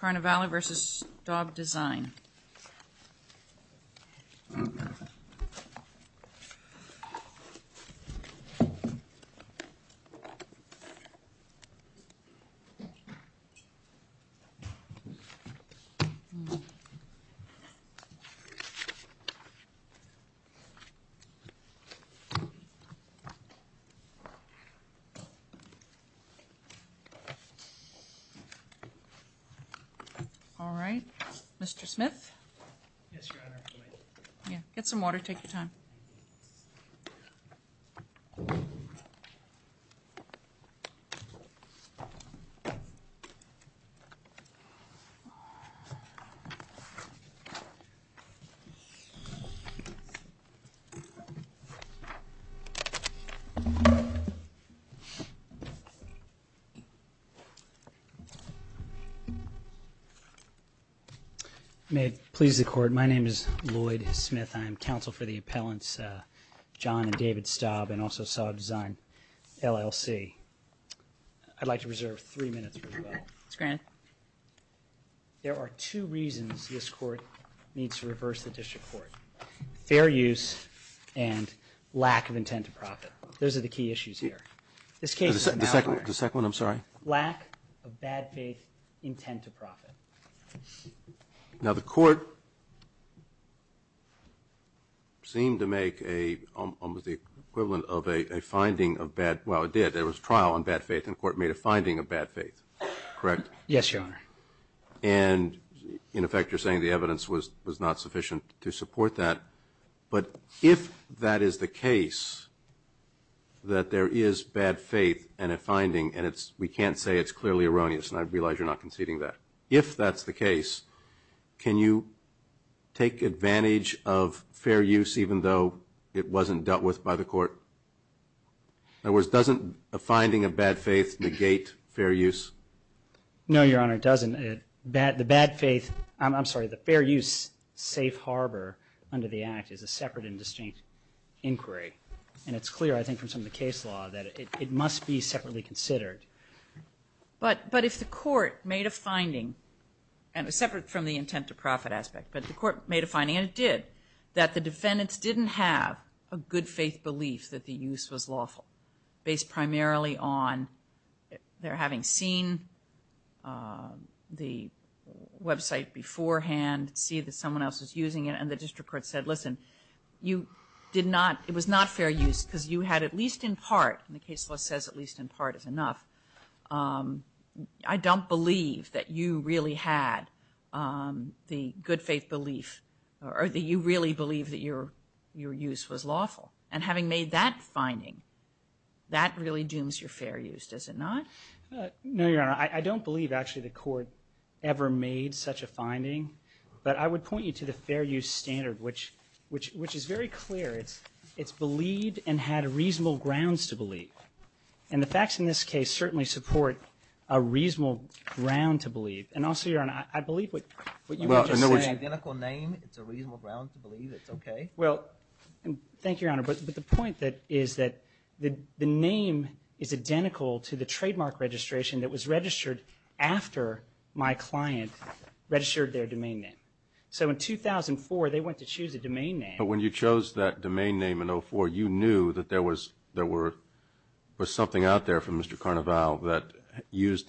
Carnivalev vs. Staub Design Alright, Mr. Smith? Yes, Your Honor. Get some water, take your time. May it please the Court, my name is Lloyd Smith. I am counsel for the appellants John and David Staub and also Staub Design LLC. I'd like to reserve three minutes. Mr. Grant? There are two reasons this court needs to reverse the district court. Fair use and lack of intent to profit. Those are the key issues here. The second one, I'm sorry. Lack of bad faith intent to profit. Now, the court seemed to make almost the equivalent of a finding of bad – well, it did. There was trial on bad faith and the court made a finding of bad faith, correct? Yes, Your Honor. And, in effect, you're saying the evidence was not sufficient to support that. But if that is the case, that there is bad faith in a finding and we can't say it's clearly erroneous and I realize you're not conceding that. If that's the case, can you take advantage of fair use even though it wasn't dealt with by the court? In other words, doesn't a finding of bad faith negate fair use? No, Your Honor, it doesn't. The bad faith – I'm sorry, the fair use safe harbor under the Act is a separate and distinct inquiry. And it's clear, I think, from some of the case law that it must be separately considered. But if the court made a finding, separate from the intent to profit aspect, but the court made a finding, and it did, that the defendants didn't have a good faith belief that the use was lawful based primarily on their having seen the website beforehand, see that someone else was using it, and the district court said, listen, you did not – it was not fair use because you had at least in part, and the case law says at least in part is enough, I don't believe that you really had the good faith belief, or that you really believe that your use was lawful. And having made that finding, that really dooms your fair use, does it not? No, Your Honor. I don't believe, actually, the court ever made such a finding. But I would point you to the fair use standard, which is very clear. It's believed and had reasonable grounds to believe. And the facts in this case certainly support a reasonable ground to believe. And also, Your Honor, I believe what you were just saying. Well, I know it's an identical name. It's a reasonable ground to believe. It's okay. Well, thank you, Your Honor. But the point is that the name is identical to the trademark registration that was registered after my client registered their domain name. So in 2004, they went to choose a domain name. But when you chose that domain name in 2004, you knew that there was something out there from Mr. Carnaval that used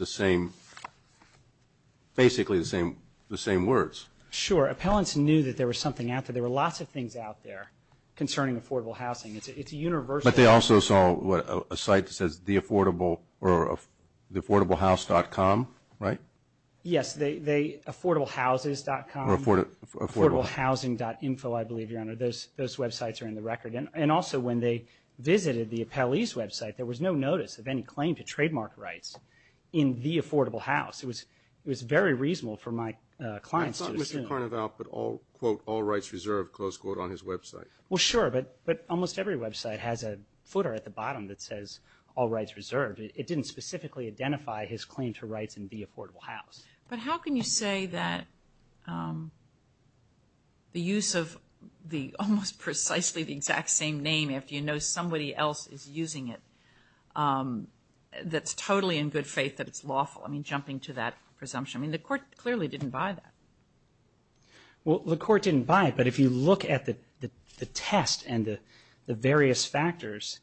basically the same words. Sure. Appellants knew that there was something out there. There were lots of things out there concerning affordable housing. It's universal. But they also saw a site that says theaffordablehouse.com, right? Yes, theaffordablehouses.com. Or affordablehousing.info, I believe, Your Honor. Those websites are in the record. And also, when they visited the appellee's website, there was no notice of any claim to trademark rights in the affordable house. It was very reasonable for my clients to assume. Mr. Carnaval put all, quote, all rights reserved, close quote, on his website. Well, sure, but almost every website has a footer at the bottom that says all rights reserved. It didn't specifically identify his claim to rights in the affordable house. But how can you say that the use of the almost precisely the exact same name, if you know somebody else is using it, that's totally in good faith that it's lawful? I mean, jumping to that presumption. I mean, the court clearly didn't buy that. Well, the court didn't buy it. But if you look at the test and the various factors,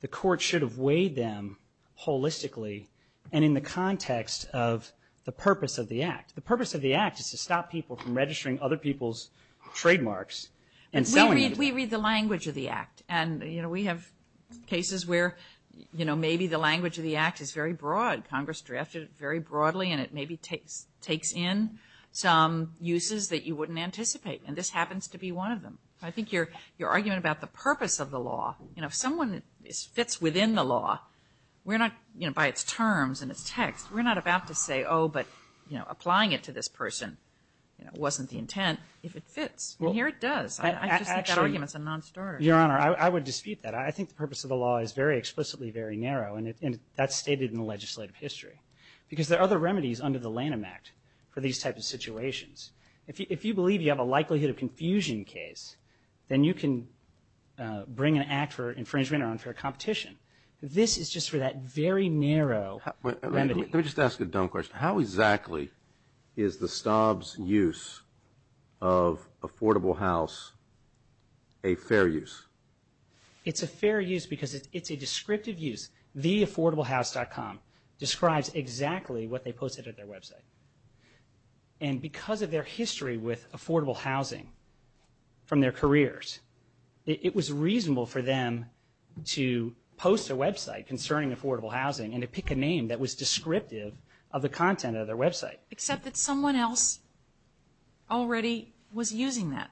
the court should have weighed them holistically and in the context of the purpose of the act. The purpose of the act is to stop people from registering other people's trademarks and selling them to them. We read the language of the act. And, you know, we have cases where, you know, maybe the language of the act is very broad. Congress drafted it very broadly. And it maybe takes in some uses that you wouldn't anticipate. And this happens to be one of them. I think your argument about the purpose of the law, you know, if someone fits within the law, we're not, you know, by its terms and its text, we're not about to say, oh, but, you know, applying it to this person wasn't the intent if it fits. And here it does. I just think that argument is a non-starter. Your Honor, I would dispute that. I think the purpose of the law is very explicitly very narrow. And that's stated in the legislative history. Because there are other remedies under the Lanham Act for these types of situations. If you believe you have a likelihood of confusion case, then you can bring an act for infringement or unfair competition. This is just for that very narrow remedy. Let me just ask a dumb question. How exactly is the Stobbs use of affordable house a fair use? It's a fair use because it's a descriptive use. Theaffordablehouse.com describes exactly what they posted at their website. And because of their history with affordable housing from their careers, it was reasonable for them to post a website concerning affordable housing and to pick a name that was descriptive of the content of their website. Except that someone else already was using that.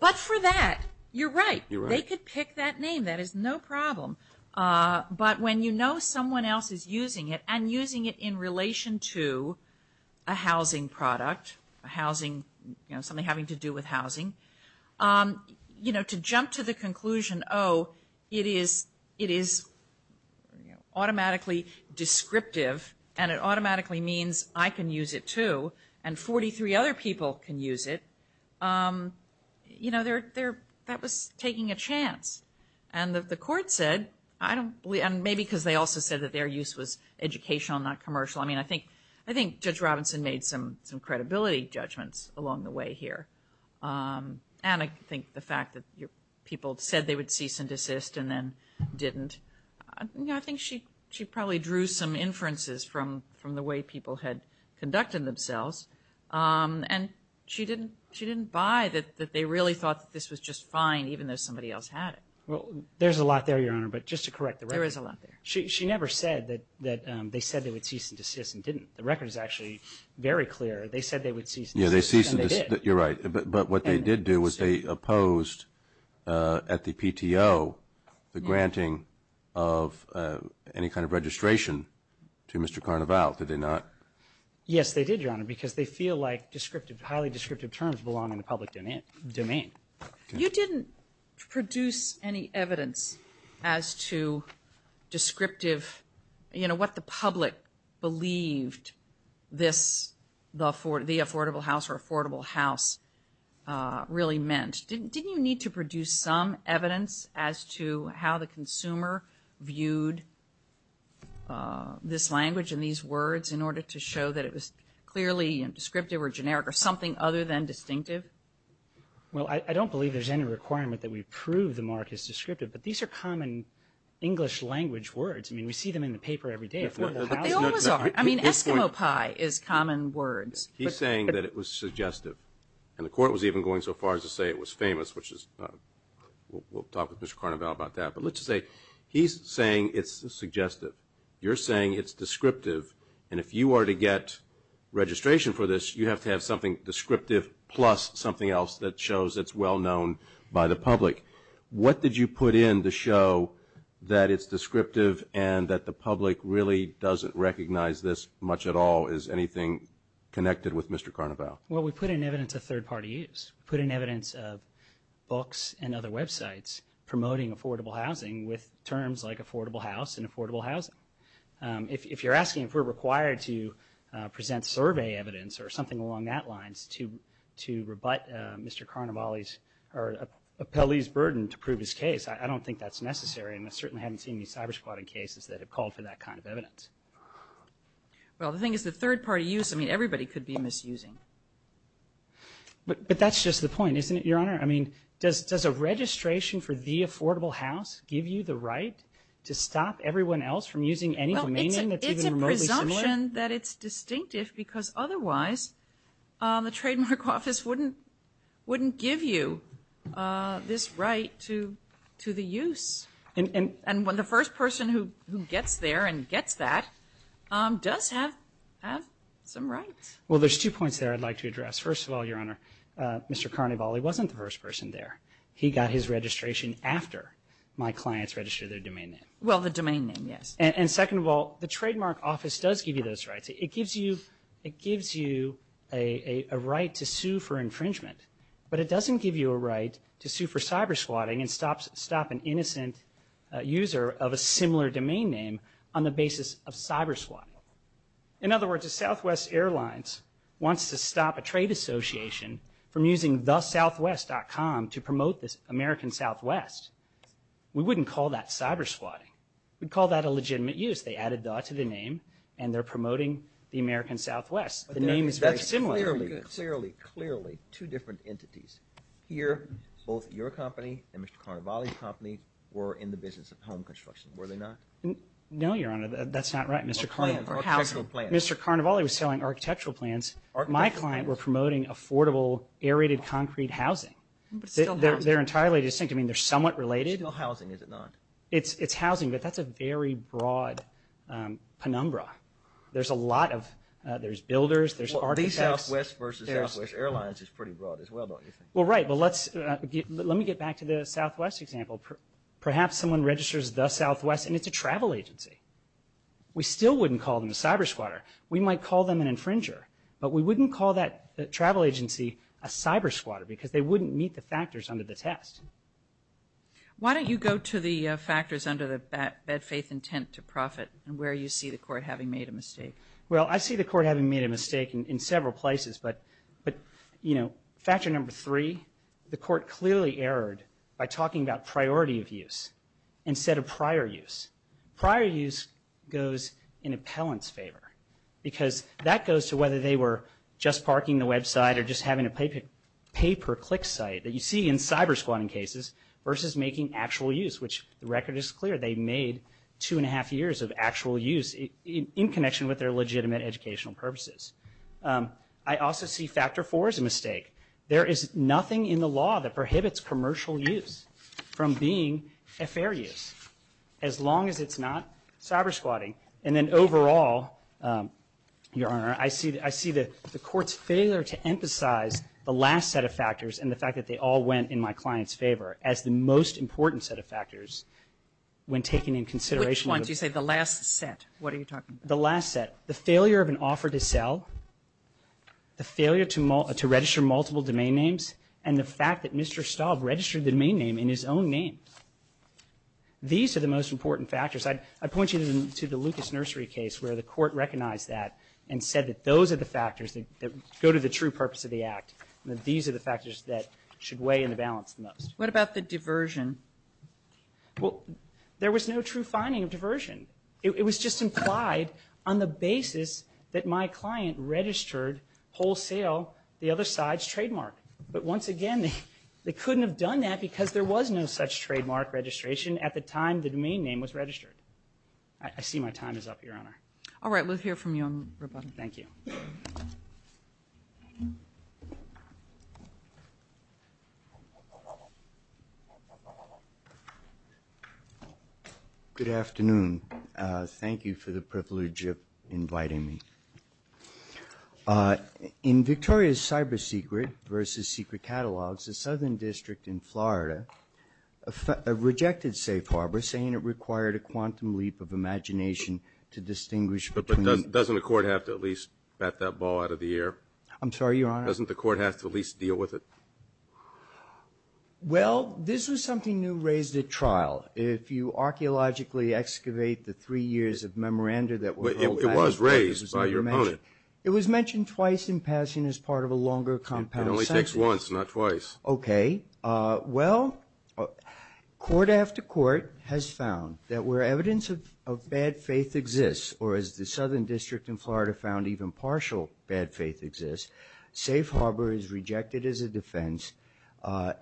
But for that, you're right. They could pick that name. That is no problem. But when you know someone else is using it and using it in relation to a housing product, something having to do with housing, to jump to the conclusion, oh, it is automatically descriptive and it automatically means I can use it too and 43 other people can use it, that was taking a chance. And the court said, and maybe because they also said that their use was educational, not commercial, I think Judge Robinson made some credibility judgments along the way here. And I think the fact that people said they would cease and desist and then didn't, I think she probably drew some inferences from the way people had conducted themselves. And she didn't buy that they really thought this was just fine even though somebody else had it. Well, there's a lot there, Your Honor, but just to correct the record. There is a lot there. She never said that they said they would cease and desist and didn't. The record is actually very clear. They said they would cease and desist and they did. You're right. But what they did do was they opposed at the PTO the granting of any kind of registration to Mr. Carnaval. Did they not? Yes, they did, Your Honor, because they feel like descriptive, highly descriptive terms belong in the public domain. You didn't produce any evidence as to descriptive, you know, what the public believed this, the affordable house or affordable house really meant. Didn't you need to produce some evidence as to how the consumer viewed this language and these words in order to show that it was clearly descriptive or generic or something other than distinctive? Well, I don't believe there's any requirement that we prove the mark is descriptive, but these are common English language words. I mean, we see them in the paper every day, affordable house. They always are. I mean, Eskimo pie is common words. He's saying that it was suggestive. And the court was even going so far as to say it was famous, which is, we'll talk with Mr. Carnaval about that. But let's just say he's saying it's suggestive. You're saying it's descriptive. And if you are to get registration for this, you have to have something descriptive plus something else that shows it's well-known by the public. What did you put in to show that it's descriptive and that the public really doesn't recognize this much at all as anything connected with Mr. Carnaval? Well, we put in evidence of third-party use. We put in evidence of books and other websites promoting affordable housing with terms like affordable house and affordable housing. If you're asking if we're required to present survey evidence or something along that lines to rebut Mr. Carnaval's or appellee's burden to prove his case, I don't think that's necessary, and I certainly haven't seen any cybersquatting cases that have called for that kind of evidence. Well, the thing is the third-party use, I mean, everybody could be misusing. But that's just the point, isn't it, Your Honor? I mean, does a registration for the affordable house give you the right to stop everyone else from using any domain name that's even remotely similar? It's my assumption that it's distinctive because otherwise the Trademark Office wouldn't give you this right to the use. And the first person who gets there and gets that does have some rights. Well, there's two points there I'd like to address. First of all, Your Honor, Mr. Carnaval, he wasn't the first person there. He got his registration after my clients registered their domain name. Well, the domain name, yes. And second of all, the Trademark Office does give you those rights. It gives you a right to sue for infringement, but it doesn't give you a right to sue for cybersquatting and stop an innocent user of a similar domain name on the basis of cybersquatting. In other words, if Southwest Airlines wants to stop a trade association from using thesouthwest.com to promote the American Southwest, we wouldn't call that cybersquatting. We'd call that a legitimate use. They added that to the name, and they're promoting the American Southwest. The name is very similar. Clearly, clearly, clearly, two different entities. Here, both your company and Mr. Carnavali's company were in the business of home construction. Were they not? No, Your Honor. That's not right. Mr. Carnavali was selling architectural plans. My client were promoting affordable aerated concrete housing. They're entirely distinct. I mean, they're somewhat related. Still housing, is it not? It's housing, but that's a very broad penumbra. There's builders, there's architects. The Southwest versus Southwest Airlines is pretty broad as well, don't you think? Well, right. Let me get back to the Southwest example. Perhaps someone registers the Southwest, and it's a travel agency. We still wouldn't call them a cybersquatter. We might call them an infringer, but we wouldn't call that travel agency a cybersquatter because they wouldn't meet the factors under the test. Why don't you go to the factors under the bad faith intent to profit and where you see the court having made a mistake? Well, I see the court having made a mistake in several places, but factor number three, the court clearly erred by talking about priority of use instead of prior use. Prior use goes in appellant's favor because that goes to whether they were just parking the website or just having a pay-per-click site that you see in cybersquatting cases versus making actual use, which the record is clear. They made two and a half years of actual use in connection with their legitimate educational purposes. I also see factor four as a mistake. There is nothing in the law that prohibits commercial use from being a fair use, as long as it's not cybersquatting. And then overall, Your Honor, I see the court's failure to emphasize the last set of factors and the fact that they all went in my client's favor as the most important set of factors when taking in consideration of the... Which ones? You say the last set. What are you talking about? The last set. The failure of an offer to sell, the failure to register multiple domain names, and the fact that Mr. Staub registered the domain name in his own name. These are the most important factors. I point you to the Lucas Nursery case where the court recognized that and said that those are the factors that go to the true purpose of the act, and that these are the factors that should weigh in the balance the most. What about the diversion? Well, there was no true finding of diversion. It was just implied on the basis that my client registered wholesale the other side's trademark. But once again, they couldn't have done that because there was no such trademark registration at the time the domain name was registered. I see my time is up, Your Honor. All right. We'll hear from you on rebuttal. Thank you. Good afternoon. Thank you for the privilege of inviting me. In Victoria's CyberSecret versus Secret Catalogs, a southern district in Florida rejected safe harbor, saying it required a quantum leap of imagination to distinguish between. But doesn't the court have to at least bat that ball out of the air? I'm sorry, Your Honor? Doesn't the court have to at least deal with it? Well, this was something new raised at trial. If you archaeologically excavate the three years of memoranda that were held back. It was raised by your opponent. It was mentioned twice in passing as part of a longer compound sentence. It only takes once, not twice. Okay. Well, court after court has found that where evidence of bad faith exists, or as the southern district in Florida found even partial bad faith exists, safe harbor is rejected as a defense,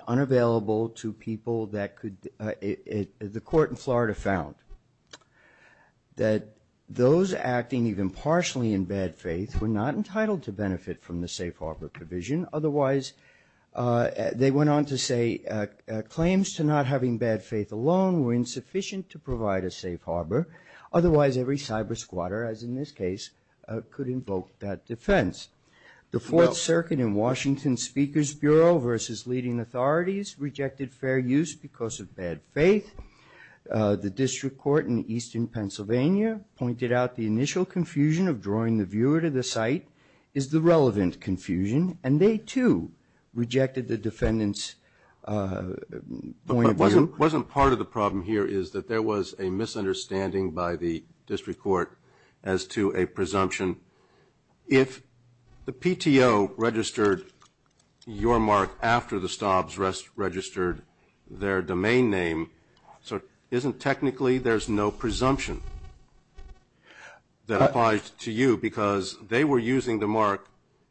unavailable to people that could. The court in Florida found that those acting even partially in bad faith were not entitled to benefit from the safe harbor provision. Otherwise, they went on to say, claims to not having bad faith alone were insufficient to provide a safe harbor. Otherwise, every cyber squatter, as in this case, could invoke that defense. The Fourth Circuit in Washington Speaker's Bureau versus leading authorities rejected fair use because of bad faith. The district court in eastern Pennsylvania pointed out the initial confusion of drawing the viewer to the site is the relevant confusion, and they, too, rejected the defendant's point of view. Wasn't part of the problem here is that there was a misunderstanding by the district court as to a presumption. If the PTO registered your mark after the Staubs registered their domain name, isn't technically there's no presumption that applies to you? Because they were using the mark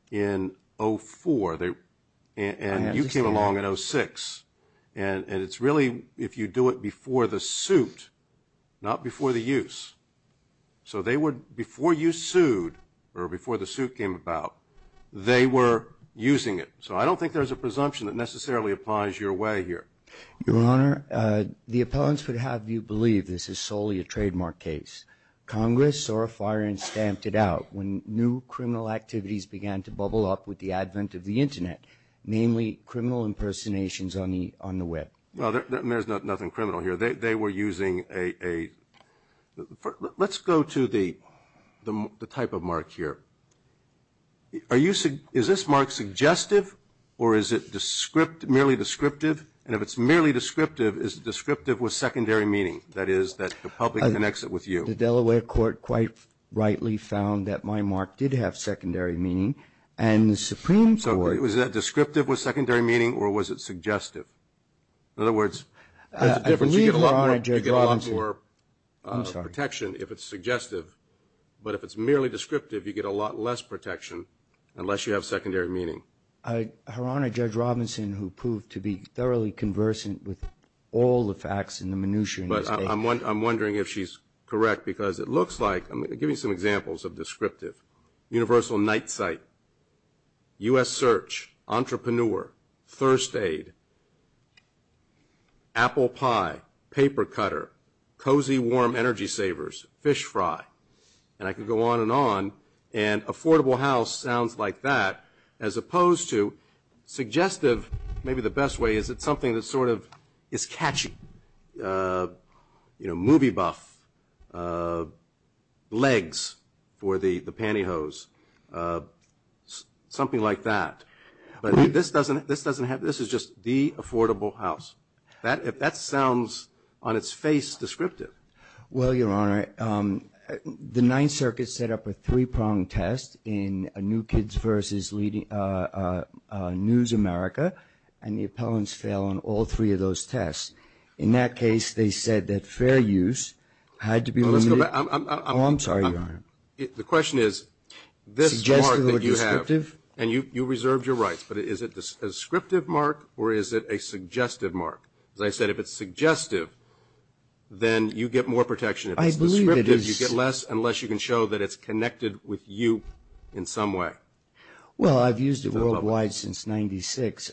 in 04, and you came along in 06. And it's really if you do it before the suit, not before the use. So they would, before you sued or before the suit came about, they were using it. So I don't think there's a presumption that necessarily applies your way here. Your Honor, the appellants would have you believe this is solely a trademark case. Congress saw a fire and stamped it out when new criminal activities began to bubble up with the advent of the Internet, namely criminal impersonations on the Web. Well, there's nothing criminal here. They were using a – let's go to the type of mark here. Is this mark suggestive or is it merely descriptive? And if it's merely descriptive, is it descriptive with secondary meaning? That is, that the public connects it with you. The Delaware court quite rightly found that my mark did have secondary meaning. And the Supreme Court – So was that descriptive with secondary meaning or was it suggestive? In other words, there's a difference. I believe, Your Honor, Judge Robinson – You get a lot more protection if it's suggestive. But if it's merely descriptive, you get a lot less protection unless you have secondary meaning. Your Honor, Judge Robinson, who proved to be thoroughly conversant with all the facts in the minutiae – But I'm wondering if she's correct because it looks like – I'm going to give you some examples of descriptive. Universal Night Sight, U.S. Search, Entrepreneur, Thirst Aid, Apple Pie, Paper Cutter, Cozy Warm Energy Savers, Fish Fry. And I could go on and on. And affordable house sounds like that as opposed to suggestive. Maybe the best way is it's something that sort of is catchy. You know, movie buff. Legs for the pantyhose. Something like that. But this doesn't have – this is just the affordable house. That sounds on its face descriptive. Well, Your Honor, the Ninth Circuit set up a three-prong test in New Kids vs. News America. And the appellants fail on all three of those tests. In that case, they said that fair use had to be limited – Well, let's go back. Oh, I'm sorry, Your Honor. The question is, this mark that you have – Suggestive or descriptive? And you reserved your rights. But is it a descriptive mark or is it a suggestive mark? As I said, if it's suggestive, then you get more protection. If it's descriptive, you get less unless you can show that it's connected with you in some way. Well, I've used it worldwide since 1996.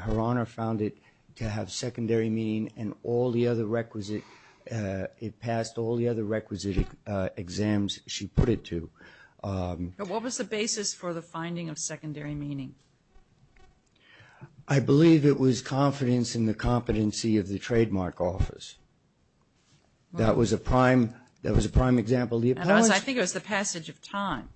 Her Honor found it to have secondary meaning and all the other requisite – it passed all the other requisite exams she put it to. What was the basis for the finding of secondary meaning? I believe it was confidence in the competency of the trademark office. That was a prime example. The appellants – I think it was the passage of time.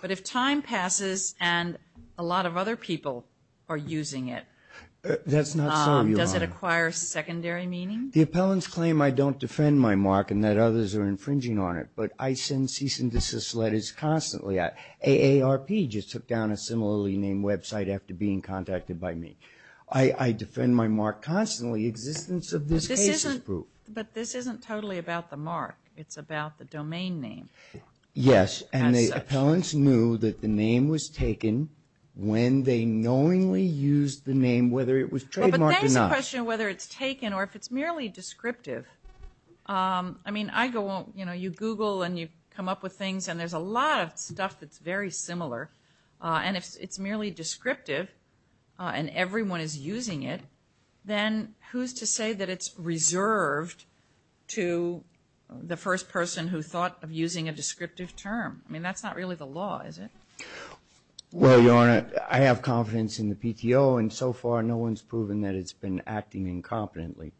But if time passes and a lot of other people are using it – That's not so, Your Honor. Does it acquire secondary meaning? The appellants claim I don't defend my mark and that others are infringing on it. But I send cease and desist letters constantly. AARP just took down a similarly named website after being contacted by me. I defend my mark constantly. Existence of this case is proof. But this isn't totally about the mark. It's about the domain name. Yes, and the appellants knew that the name was taken when they knowingly used the name, whether it was trademarked or not. Well, but then there's the question of whether it's taken or if it's merely descriptive. I mean, I go – you know, you Google and you come up with things, and there's a lot of stuff that's very similar. And if it's merely descriptive and everyone is using it, then who's to say that it's reserved to the first person who thought of using a descriptive term? I mean, that's not really the law, is it? Well, Your Honor, I have confidence in the PTO, and so far no one's proven that it's been acting incompetently.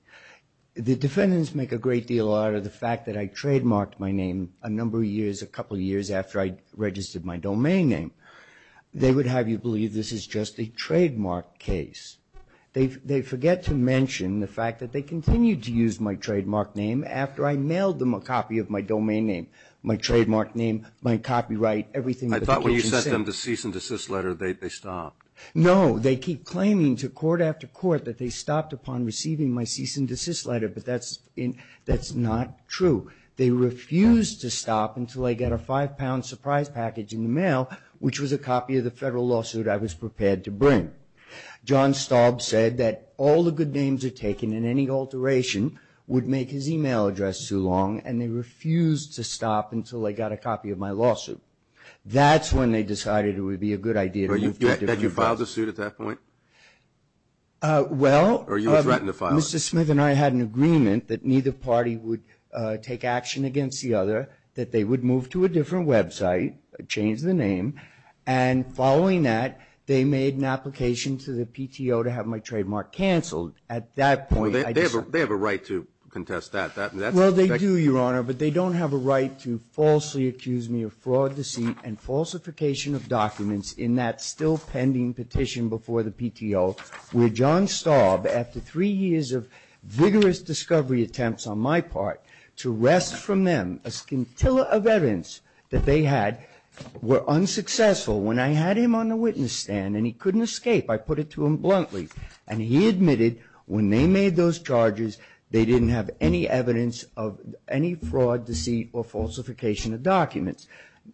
The defendants make a great deal out of the fact that I trademarked my name a number of years, a couple of years after I registered my domain name. They would have you believe this is just a trademark case. They forget to mention the fact that they continued to use my trademark name after I mailed them a copy of my domain name, my trademark name, my copyright, everything. I thought when you sent them the cease and desist letter they stopped. No, they keep claiming to court after court that they stopped upon receiving my cease and desist letter, but that's not true. They refused to stop until they got a five-pound surprise package in the mail, which was a copy of the federal lawsuit I was prepared to bring. John Staub said that all the good names are taken and any alteration would make his email address too long, that's when they decided it would be a good idea to move to a different website. Did you file the suit at that point? Well, Mr. Smith and I had an agreement that neither party would take action against the other, that they would move to a different website, change the name, and following that they made an application to the PTO to have my trademark canceled. At that point I decided. They have a right to contest that. Well, they do, Your Honor, but they don't have a right to falsely accuse me of fraud, deceit, and falsification of documents in that still pending petition before the PTO, where John Staub, after three years of vigorous discovery attempts on my part, to wrest from them a scintilla of evidence that they had were unsuccessful. When I had him on the witness stand and he couldn't escape, I put it to him bluntly, and he admitted when they made those charges, they didn't have any evidence of any fraud, deceit, or falsification of documents.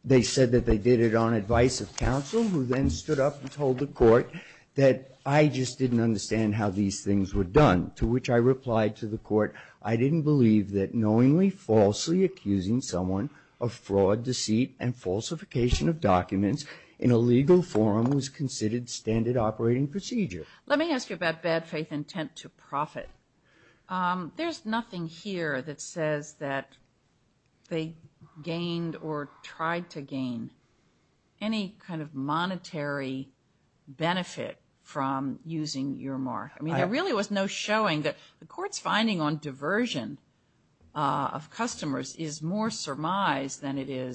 They said that they did it on advice of counsel, who then stood up and told the court that I just didn't understand how these things were done, to which I replied to the court, I didn't believe that knowingly falsely accusing someone of fraud, deceit, and falsification of documents in a legal forum was considered standard operating procedure. Let me ask you about bad faith intent to profit. There's nothing here that says that they gained or tried to gain any kind of monetary benefit from using your mark. I mean, there really was no showing that the court's finding on diversion of customers is more surmised than it is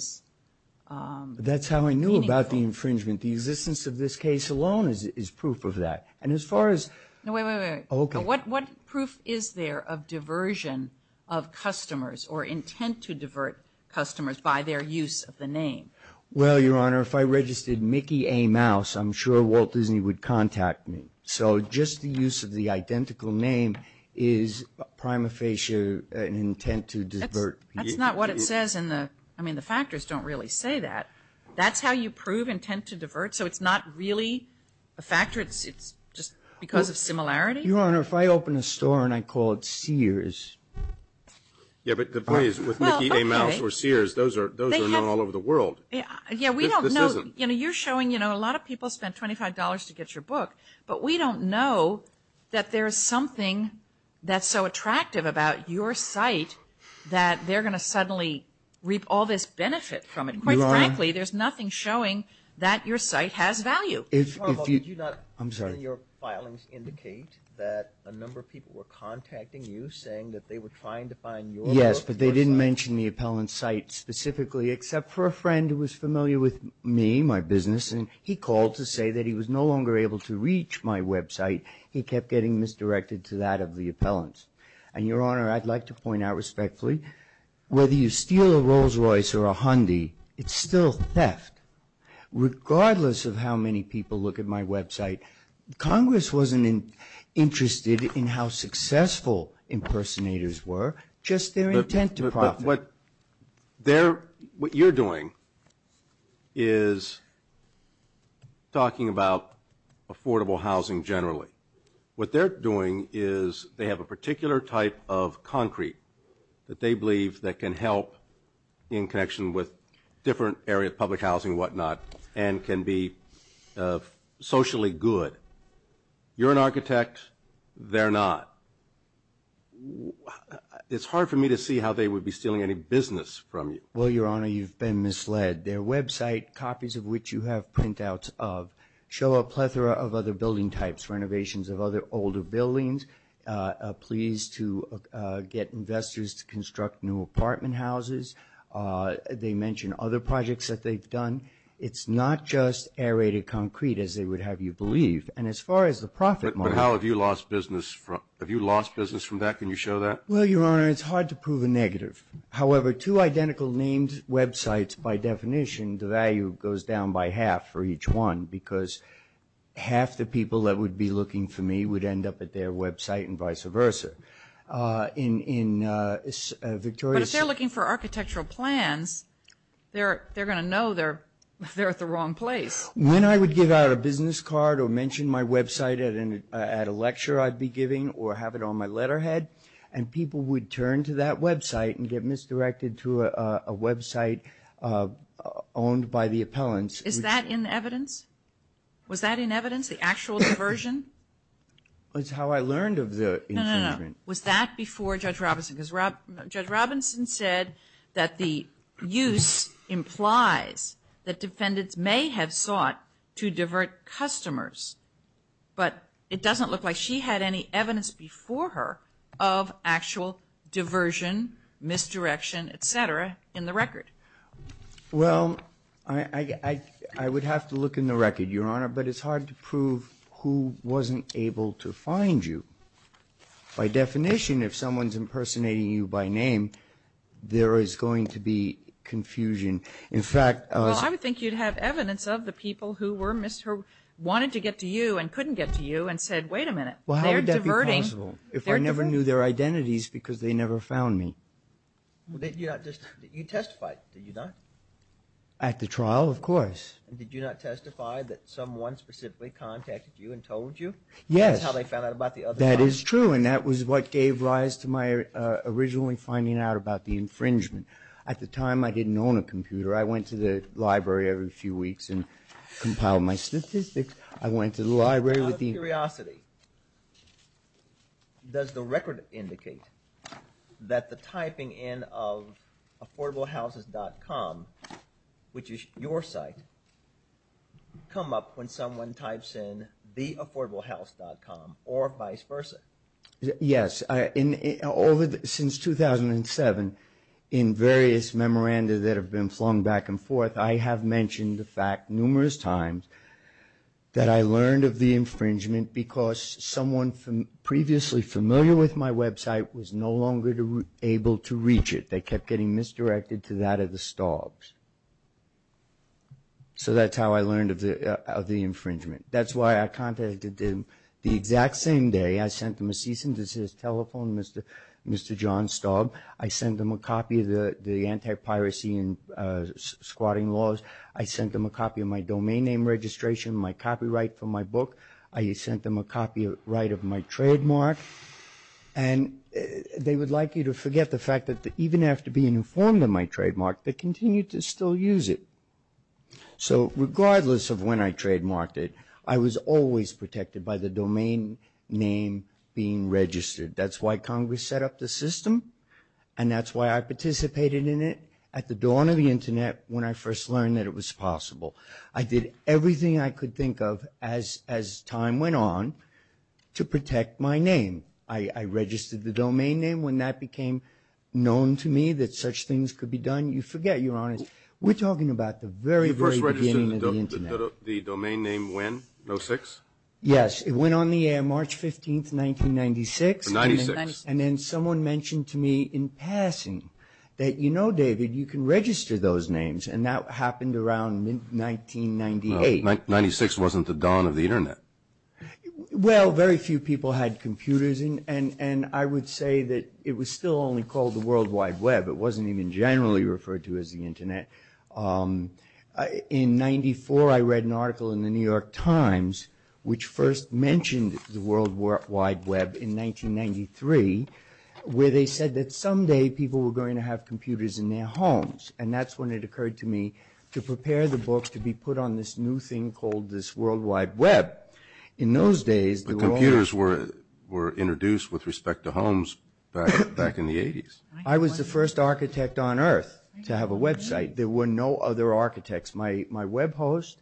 meaningful. That's how I knew about the infringement. The existence of this case alone is proof of that. And as far as – No, wait, wait, wait. Okay. What proof is there of diversion of customers or intent to divert customers by their use of the name? Well, Your Honor, if I registered Mickey A. Mouse, I'm sure Walt Disney would contact me. So just the use of the identical name is prima facie an intent to divert. That's not what it says in the – I mean, the factors don't really say that. That's how you prove intent to divert. So it's not really a factor. It's just because of similarity? Your Honor, if I open a store and I call it Sears. Yeah, but the point is with Mickey A. Mouse or Sears, those are known all over the world. Yeah, we don't know. You know, you're showing, you know, a lot of people spent $25 to get your book, but we don't know that there is something that's so attractive about your site that they're going to suddenly reap all this benefit from it. Quite frankly, there's nothing showing that your site has value. Your Honor, did you not – I'm sorry. – in your filings indicate that a number of people were contacting you saying that they were trying to find your book? Yes, but they didn't mention the appellant's site specifically except for a friend who was familiar with me, my business, and he called to say that he was no longer able to reach my website. He kept getting misdirected to that of the appellant's. And, Your Honor, I'd like to point out respectfully, whether you steal a Rolls-Royce or a Hyundai, it's still theft. Regardless of how many people look at my website, Congress wasn't interested in how successful impersonators were, just their intent to profit. What you're doing is talking about affordable housing generally. What they're doing is they have a particular type of concrete that they believe that can help in connection with different areas, public housing and whatnot, and can be socially good. You're an architect. They're not. It's hard for me to see how they would be stealing any business from you. Well, Your Honor, you've been misled. Their website, copies of which you have printouts of, show a plethora of other building types, renovations of other older buildings, pleas to get investors to construct new apartment houses. They mention other projects that they've done. It's not just aerated concrete, as they would have you believe. But how have you lost business? Have you lost business from that? Can you show that? Well, Your Honor, it's hard to prove a negative. However, two identical named websites, by definition, the value goes down by half for each one, because half the people that would be looking for me would end up at their website and vice versa. But if they're looking for architectural plans, they're going to know they're at the wrong place. When I would give out a business card or mention my website at a lecture I'd be giving or have it on my letterhead, and people would turn to that website and get misdirected to a website owned by the appellants. Is that in evidence? Was that in evidence, the actual diversion? It's how I learned of the infringement. No, no, no. Was that before Judge Robinson? Because Judge Robinson said that the use implies that defendants may have sought to divert customers, but it doesn't look like she had any evidence before her of actual diversion, misdirection, et cetera, in the record. Well, I would have to look in the record, Your Honor, but it's hard to prove who wasn't able to find you. By definition, if someone's impersonating you by name, there is going to be confusion. In fact, Well, I would think you'd have evidence of the people who wanted to get to you and couldn't get to you and said, wait a minute, they're diverting. How would that be possible if I never knew their identities because they never found me? You testified, did you not? At the trial, of course. Did you not testify that someone specifically contacted you and told you? Yes. That's how they found out about the other house. That is true, and that was what gave rise to my originally finding out about the infringement. At the time, I didn't own a computer. I went to the library every few weeks and compiled my statistics. I went to the library with the Out of curiosity, does the record indicate that the typing in of affordablehouses.com, which is your site, come up when someone types in theaffordablehouse.com or vice versa? Yes. Since 2007, in various memoranda that have been flung back and forth, I have mentioned the fact numerous times that I learned of the infringement because someone previously familiar with my website was no longer able to reach it. They kept getting misdirected to that of the Staub's. That's how I learned of the infringement. That's why I contacted them the exact same day. I sent them a cease and desist telephone, Mr. John Staub. I sent them a copy of the anti-piracy and squatting laws. I sent them a copy of my domain name registration, my copyright for my book. I sent them a copyright of my trademark. And they would like you to forget the fact that even after being informed of my trademark, they continued to still use it. So regardless of when I trademarked it, I was always protected by the domain name being registered. That's why Congress set up the system, and that's why I participated in it at the dawn of the Internet when I first learned that it was possible. I did everything I could think of as time went on to protect my name. I registered the domain name. When that became known to me that such things could be done, you forget. You're honest. We're talking about the very, very beginning of the Internet. You first registered the domain name when, in 06? Yes. It went on the air March 15, 1996. For 96. And then someone mentioned to me in passing that, you know, David, you can register those names. And that happened around 1998. Well, 96 wasn't the dawn of the Internet. Well, very few people had computers. And I would say that it was still only called the World Wide Web. It wasn't even generally referred to as the Internet. In 94, I read an article in the New York Times which first mentioned the World Wide Web in 1993 where they said that someday people were going to have computers in their homes. And that's when it occurred to me to prepare the book to be put on this new thing called this World Wide Web. In those days, there were only – But computers were introduced with respect to homes back in the 80s. I was the first architect on Earth to have a website. There were no other architects. My web host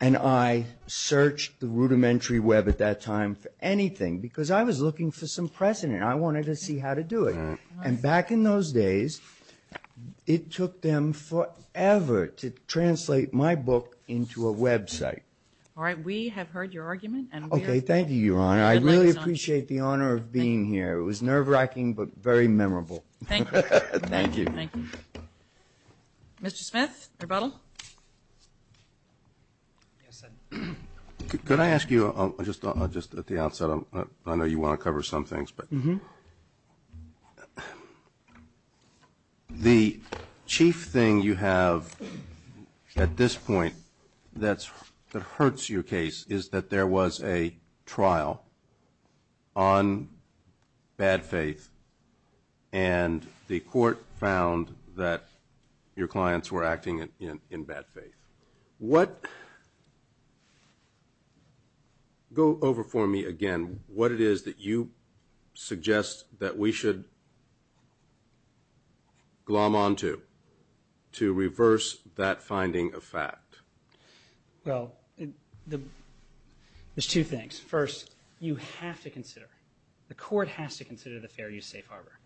and I searched the rudimentary web at that time for anything because I was looking for some precedent. I wanted to see how to do it. And back in those days, it took them forever to translate my book into a website. All right. We have heard your argument. Okay. Thank you, Your Honor. I really appreciate the honor of being here. It was nerve-wracking but very memorable. Thank you. Thank you. Thank you. Mr. Smith, rebuttal. Could I ask you, just at the outset, I know you want to cover some things, but the chief thing you have at this point that hurts your case is that there was a trial on bad faith and the court found that your clients were acting in bad faith. Go over for me again what it is that you suggest that we should glom onto to reverse that finding of fact. Well, there's two things. First, you have to consider, the court has to consider the fair use safe harbor.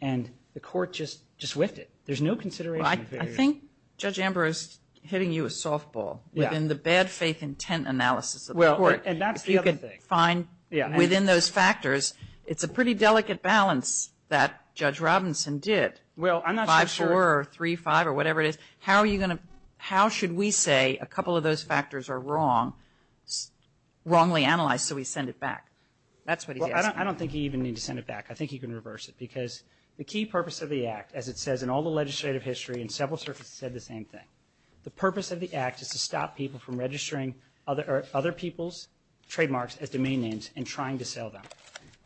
And the court just whiffed it. There's no consideration of fair use. I think Judge Amber is hitting you with softball within the bad faith intent analysis of the court. And that's the other thing. If you could find within those factors, it's a pretty delicate balance that Judge Robinson did, 5-4 or 3-5 or whatever it is. How should we say a couple of those factors are wrong, wrongly analyzed, so we send it back? That's what he's asking. I don't think you even need to send it back. I think you can reverse it because the key purpose of the act, as it says, in all the legislative history and several circuits have said the same thing, the purpose of the act is to stop people from registering other people's trademarks as domain names and trying to sell them.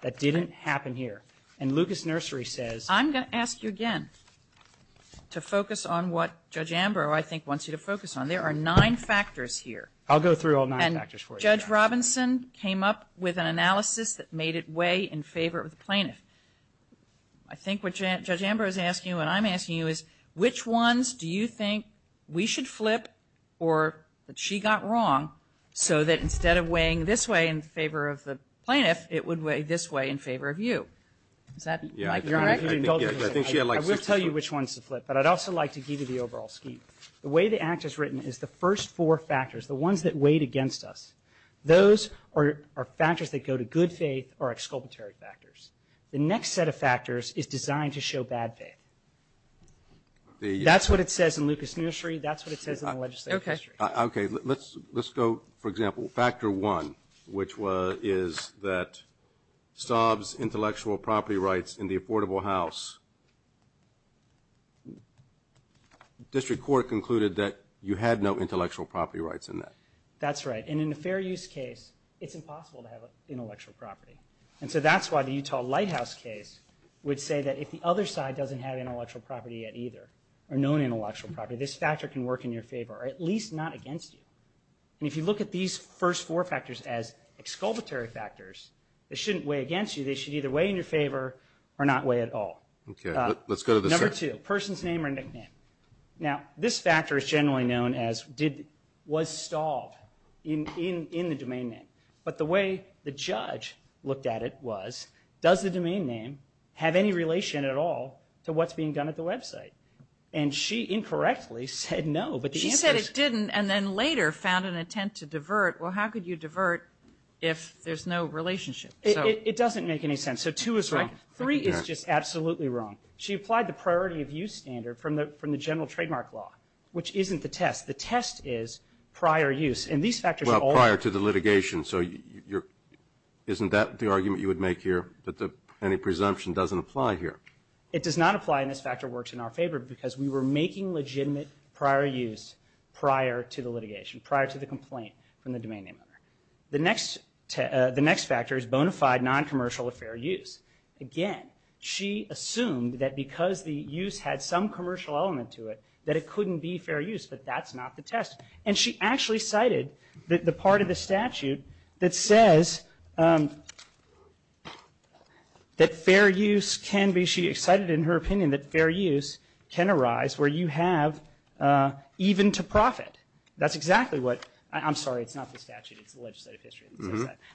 That didn't happen here. And Lucas Nursery says. I'm going to ask you again to focus on what Judge Amber, I think, wants you to focus on. There are nine factors here. I'll go through all nine factors for you. Judge Robinson came up with an analysis that made it way in favor of the plaintiff. I think what Judge Amber is asking you and I'm asking you is which ones do you think we should flip or that she got wrong so that instead of weighing this way in favor of the plaintiff, it would weigh this way in favor of you? Is that correct? I will tell you which ones to flip. But I'd also like to give you the overall scheme. The way the act is written is the first four factors, the ones that weighed against us, those are factors that go to good faith or exculpatory factors. The next set of factors is designed to show bad faith. That's what it says in Lucas Nursery. That's what it says in the legislative history. Okay. Let's go, for example, factor one, which is that Staub's intellectual property rights in the Affordable House, District Court concluded that you had no intellectual property rights in that. That's right. And in a fair use case, it's impossible to have intellectual property. And so that's why the Utah Lighthouse case would say that if the other side doesn't have intellectual property yet either or no intellectual property, this factor can work in your favor or at least not against you. And if you look at these first four factors as exculpatory factors, they shouldn't weigh against you. They should either weigh in your favor or not weigh at all. Okay. Let's go to the second. Number two, person's name or nickname. Now, this factor is generally known as was Staub in the domain name. But the way the judge looked at it was, does the domain name have any relation at all to what's being done at the website? And she incorrectly said no. She said it didn't and then later found an intent to divert. Well, how could you divert if there's no relationship? It doesn't make any sense. So two is wrong. Three is just absolutely wrong. She applied the priority of use standard from the general trademark law, which isn't the test. The test is prior use. Well, prior to the litigation, so isn't that the argument you would make here that any presumption doesn't apply here? It does not apply and this factor works in our favor because we were making legitimate prior use prior to the litigation, prior to the complaint from the domain name owner. The next factor is bona fide noncommercial or fair use. Again, she assumed that because the use had some commercial element to it that it couldn't be fair use, but that's not the test. And she actually cited the part of the statute that says that fair use can be, she cited in her opinion that fair use can arise where you have even to profit. That's exactly what, I'm sorry, it's not the statute, it's the legislative history.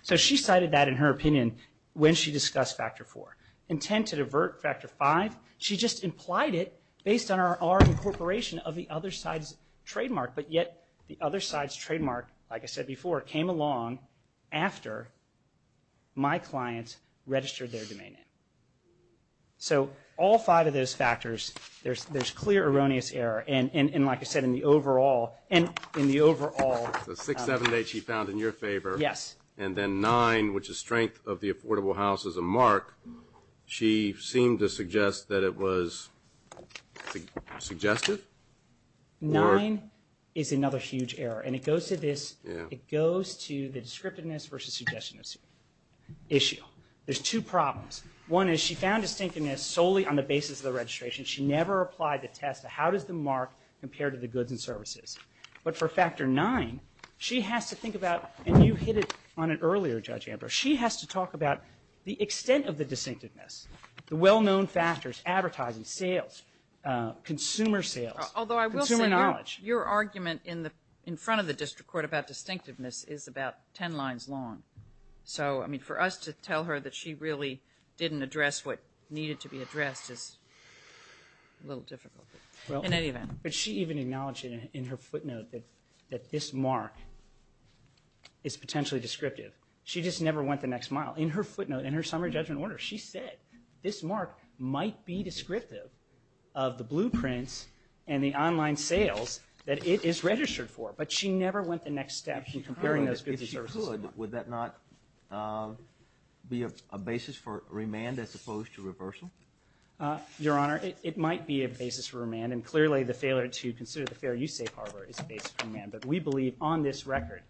So she cited that in her opinion when she discussed factor four. Intent to divert, factor five, she just implied it based on our incorporation of the other side's trademark. But yet the other side's trademark, like I said before, came along after my client registered their domain name. So all five of those factors, there's clear erroneous error. And like I said, in the overall. The six, seven dates she found in your favor. Yes. And then nine, which is strength of the affordable house as a mark, she seemed to suggest that it was suggestive? Nine is another huge error. And it goes to this, it goes to the descriptiveness versus suggestion issue. There's two problems. One is she found distinctiveness solely on the basis of the registration. She never applied the test of how does the mark compare to the goods and services. But for factor nine, she has to think about, and you hit it on it earlier, Judge Ambrose, she has to talk about the extent of the distinctiveness. The well-known factors, advertising, sales, consumer sales, consumer knowledge. Although I will say your argument in front of the district court about distinctiveness is about ten lines long. So, I mean, for us to tell her that she really didn't address what needed to be addressed is a little difficult. In any event. But she even acknowledged in her footnote that this mark is potentially descriptive. She just never went the next mile. In her footnote, in her summary judgment order, she said this mark might be descriptive of the blueprints and the online sales that it is registered for. But she never went the next step in comparing those goods and services. If she could, would that not be a basis for remand as opposed to reversal? Your Honor, it might be a basis for remand. And clearly the failure to consider the fair use safe harbor is a basis for remand. But we believe on this record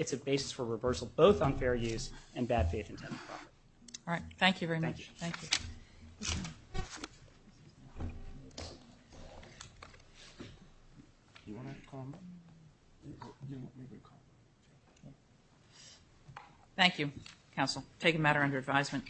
it's a basis for reversal. Both unfair use and bad faith intent. All right. Thank you very much. Thank you. Thank you. Thank you, counsel. Take a matter under advisement.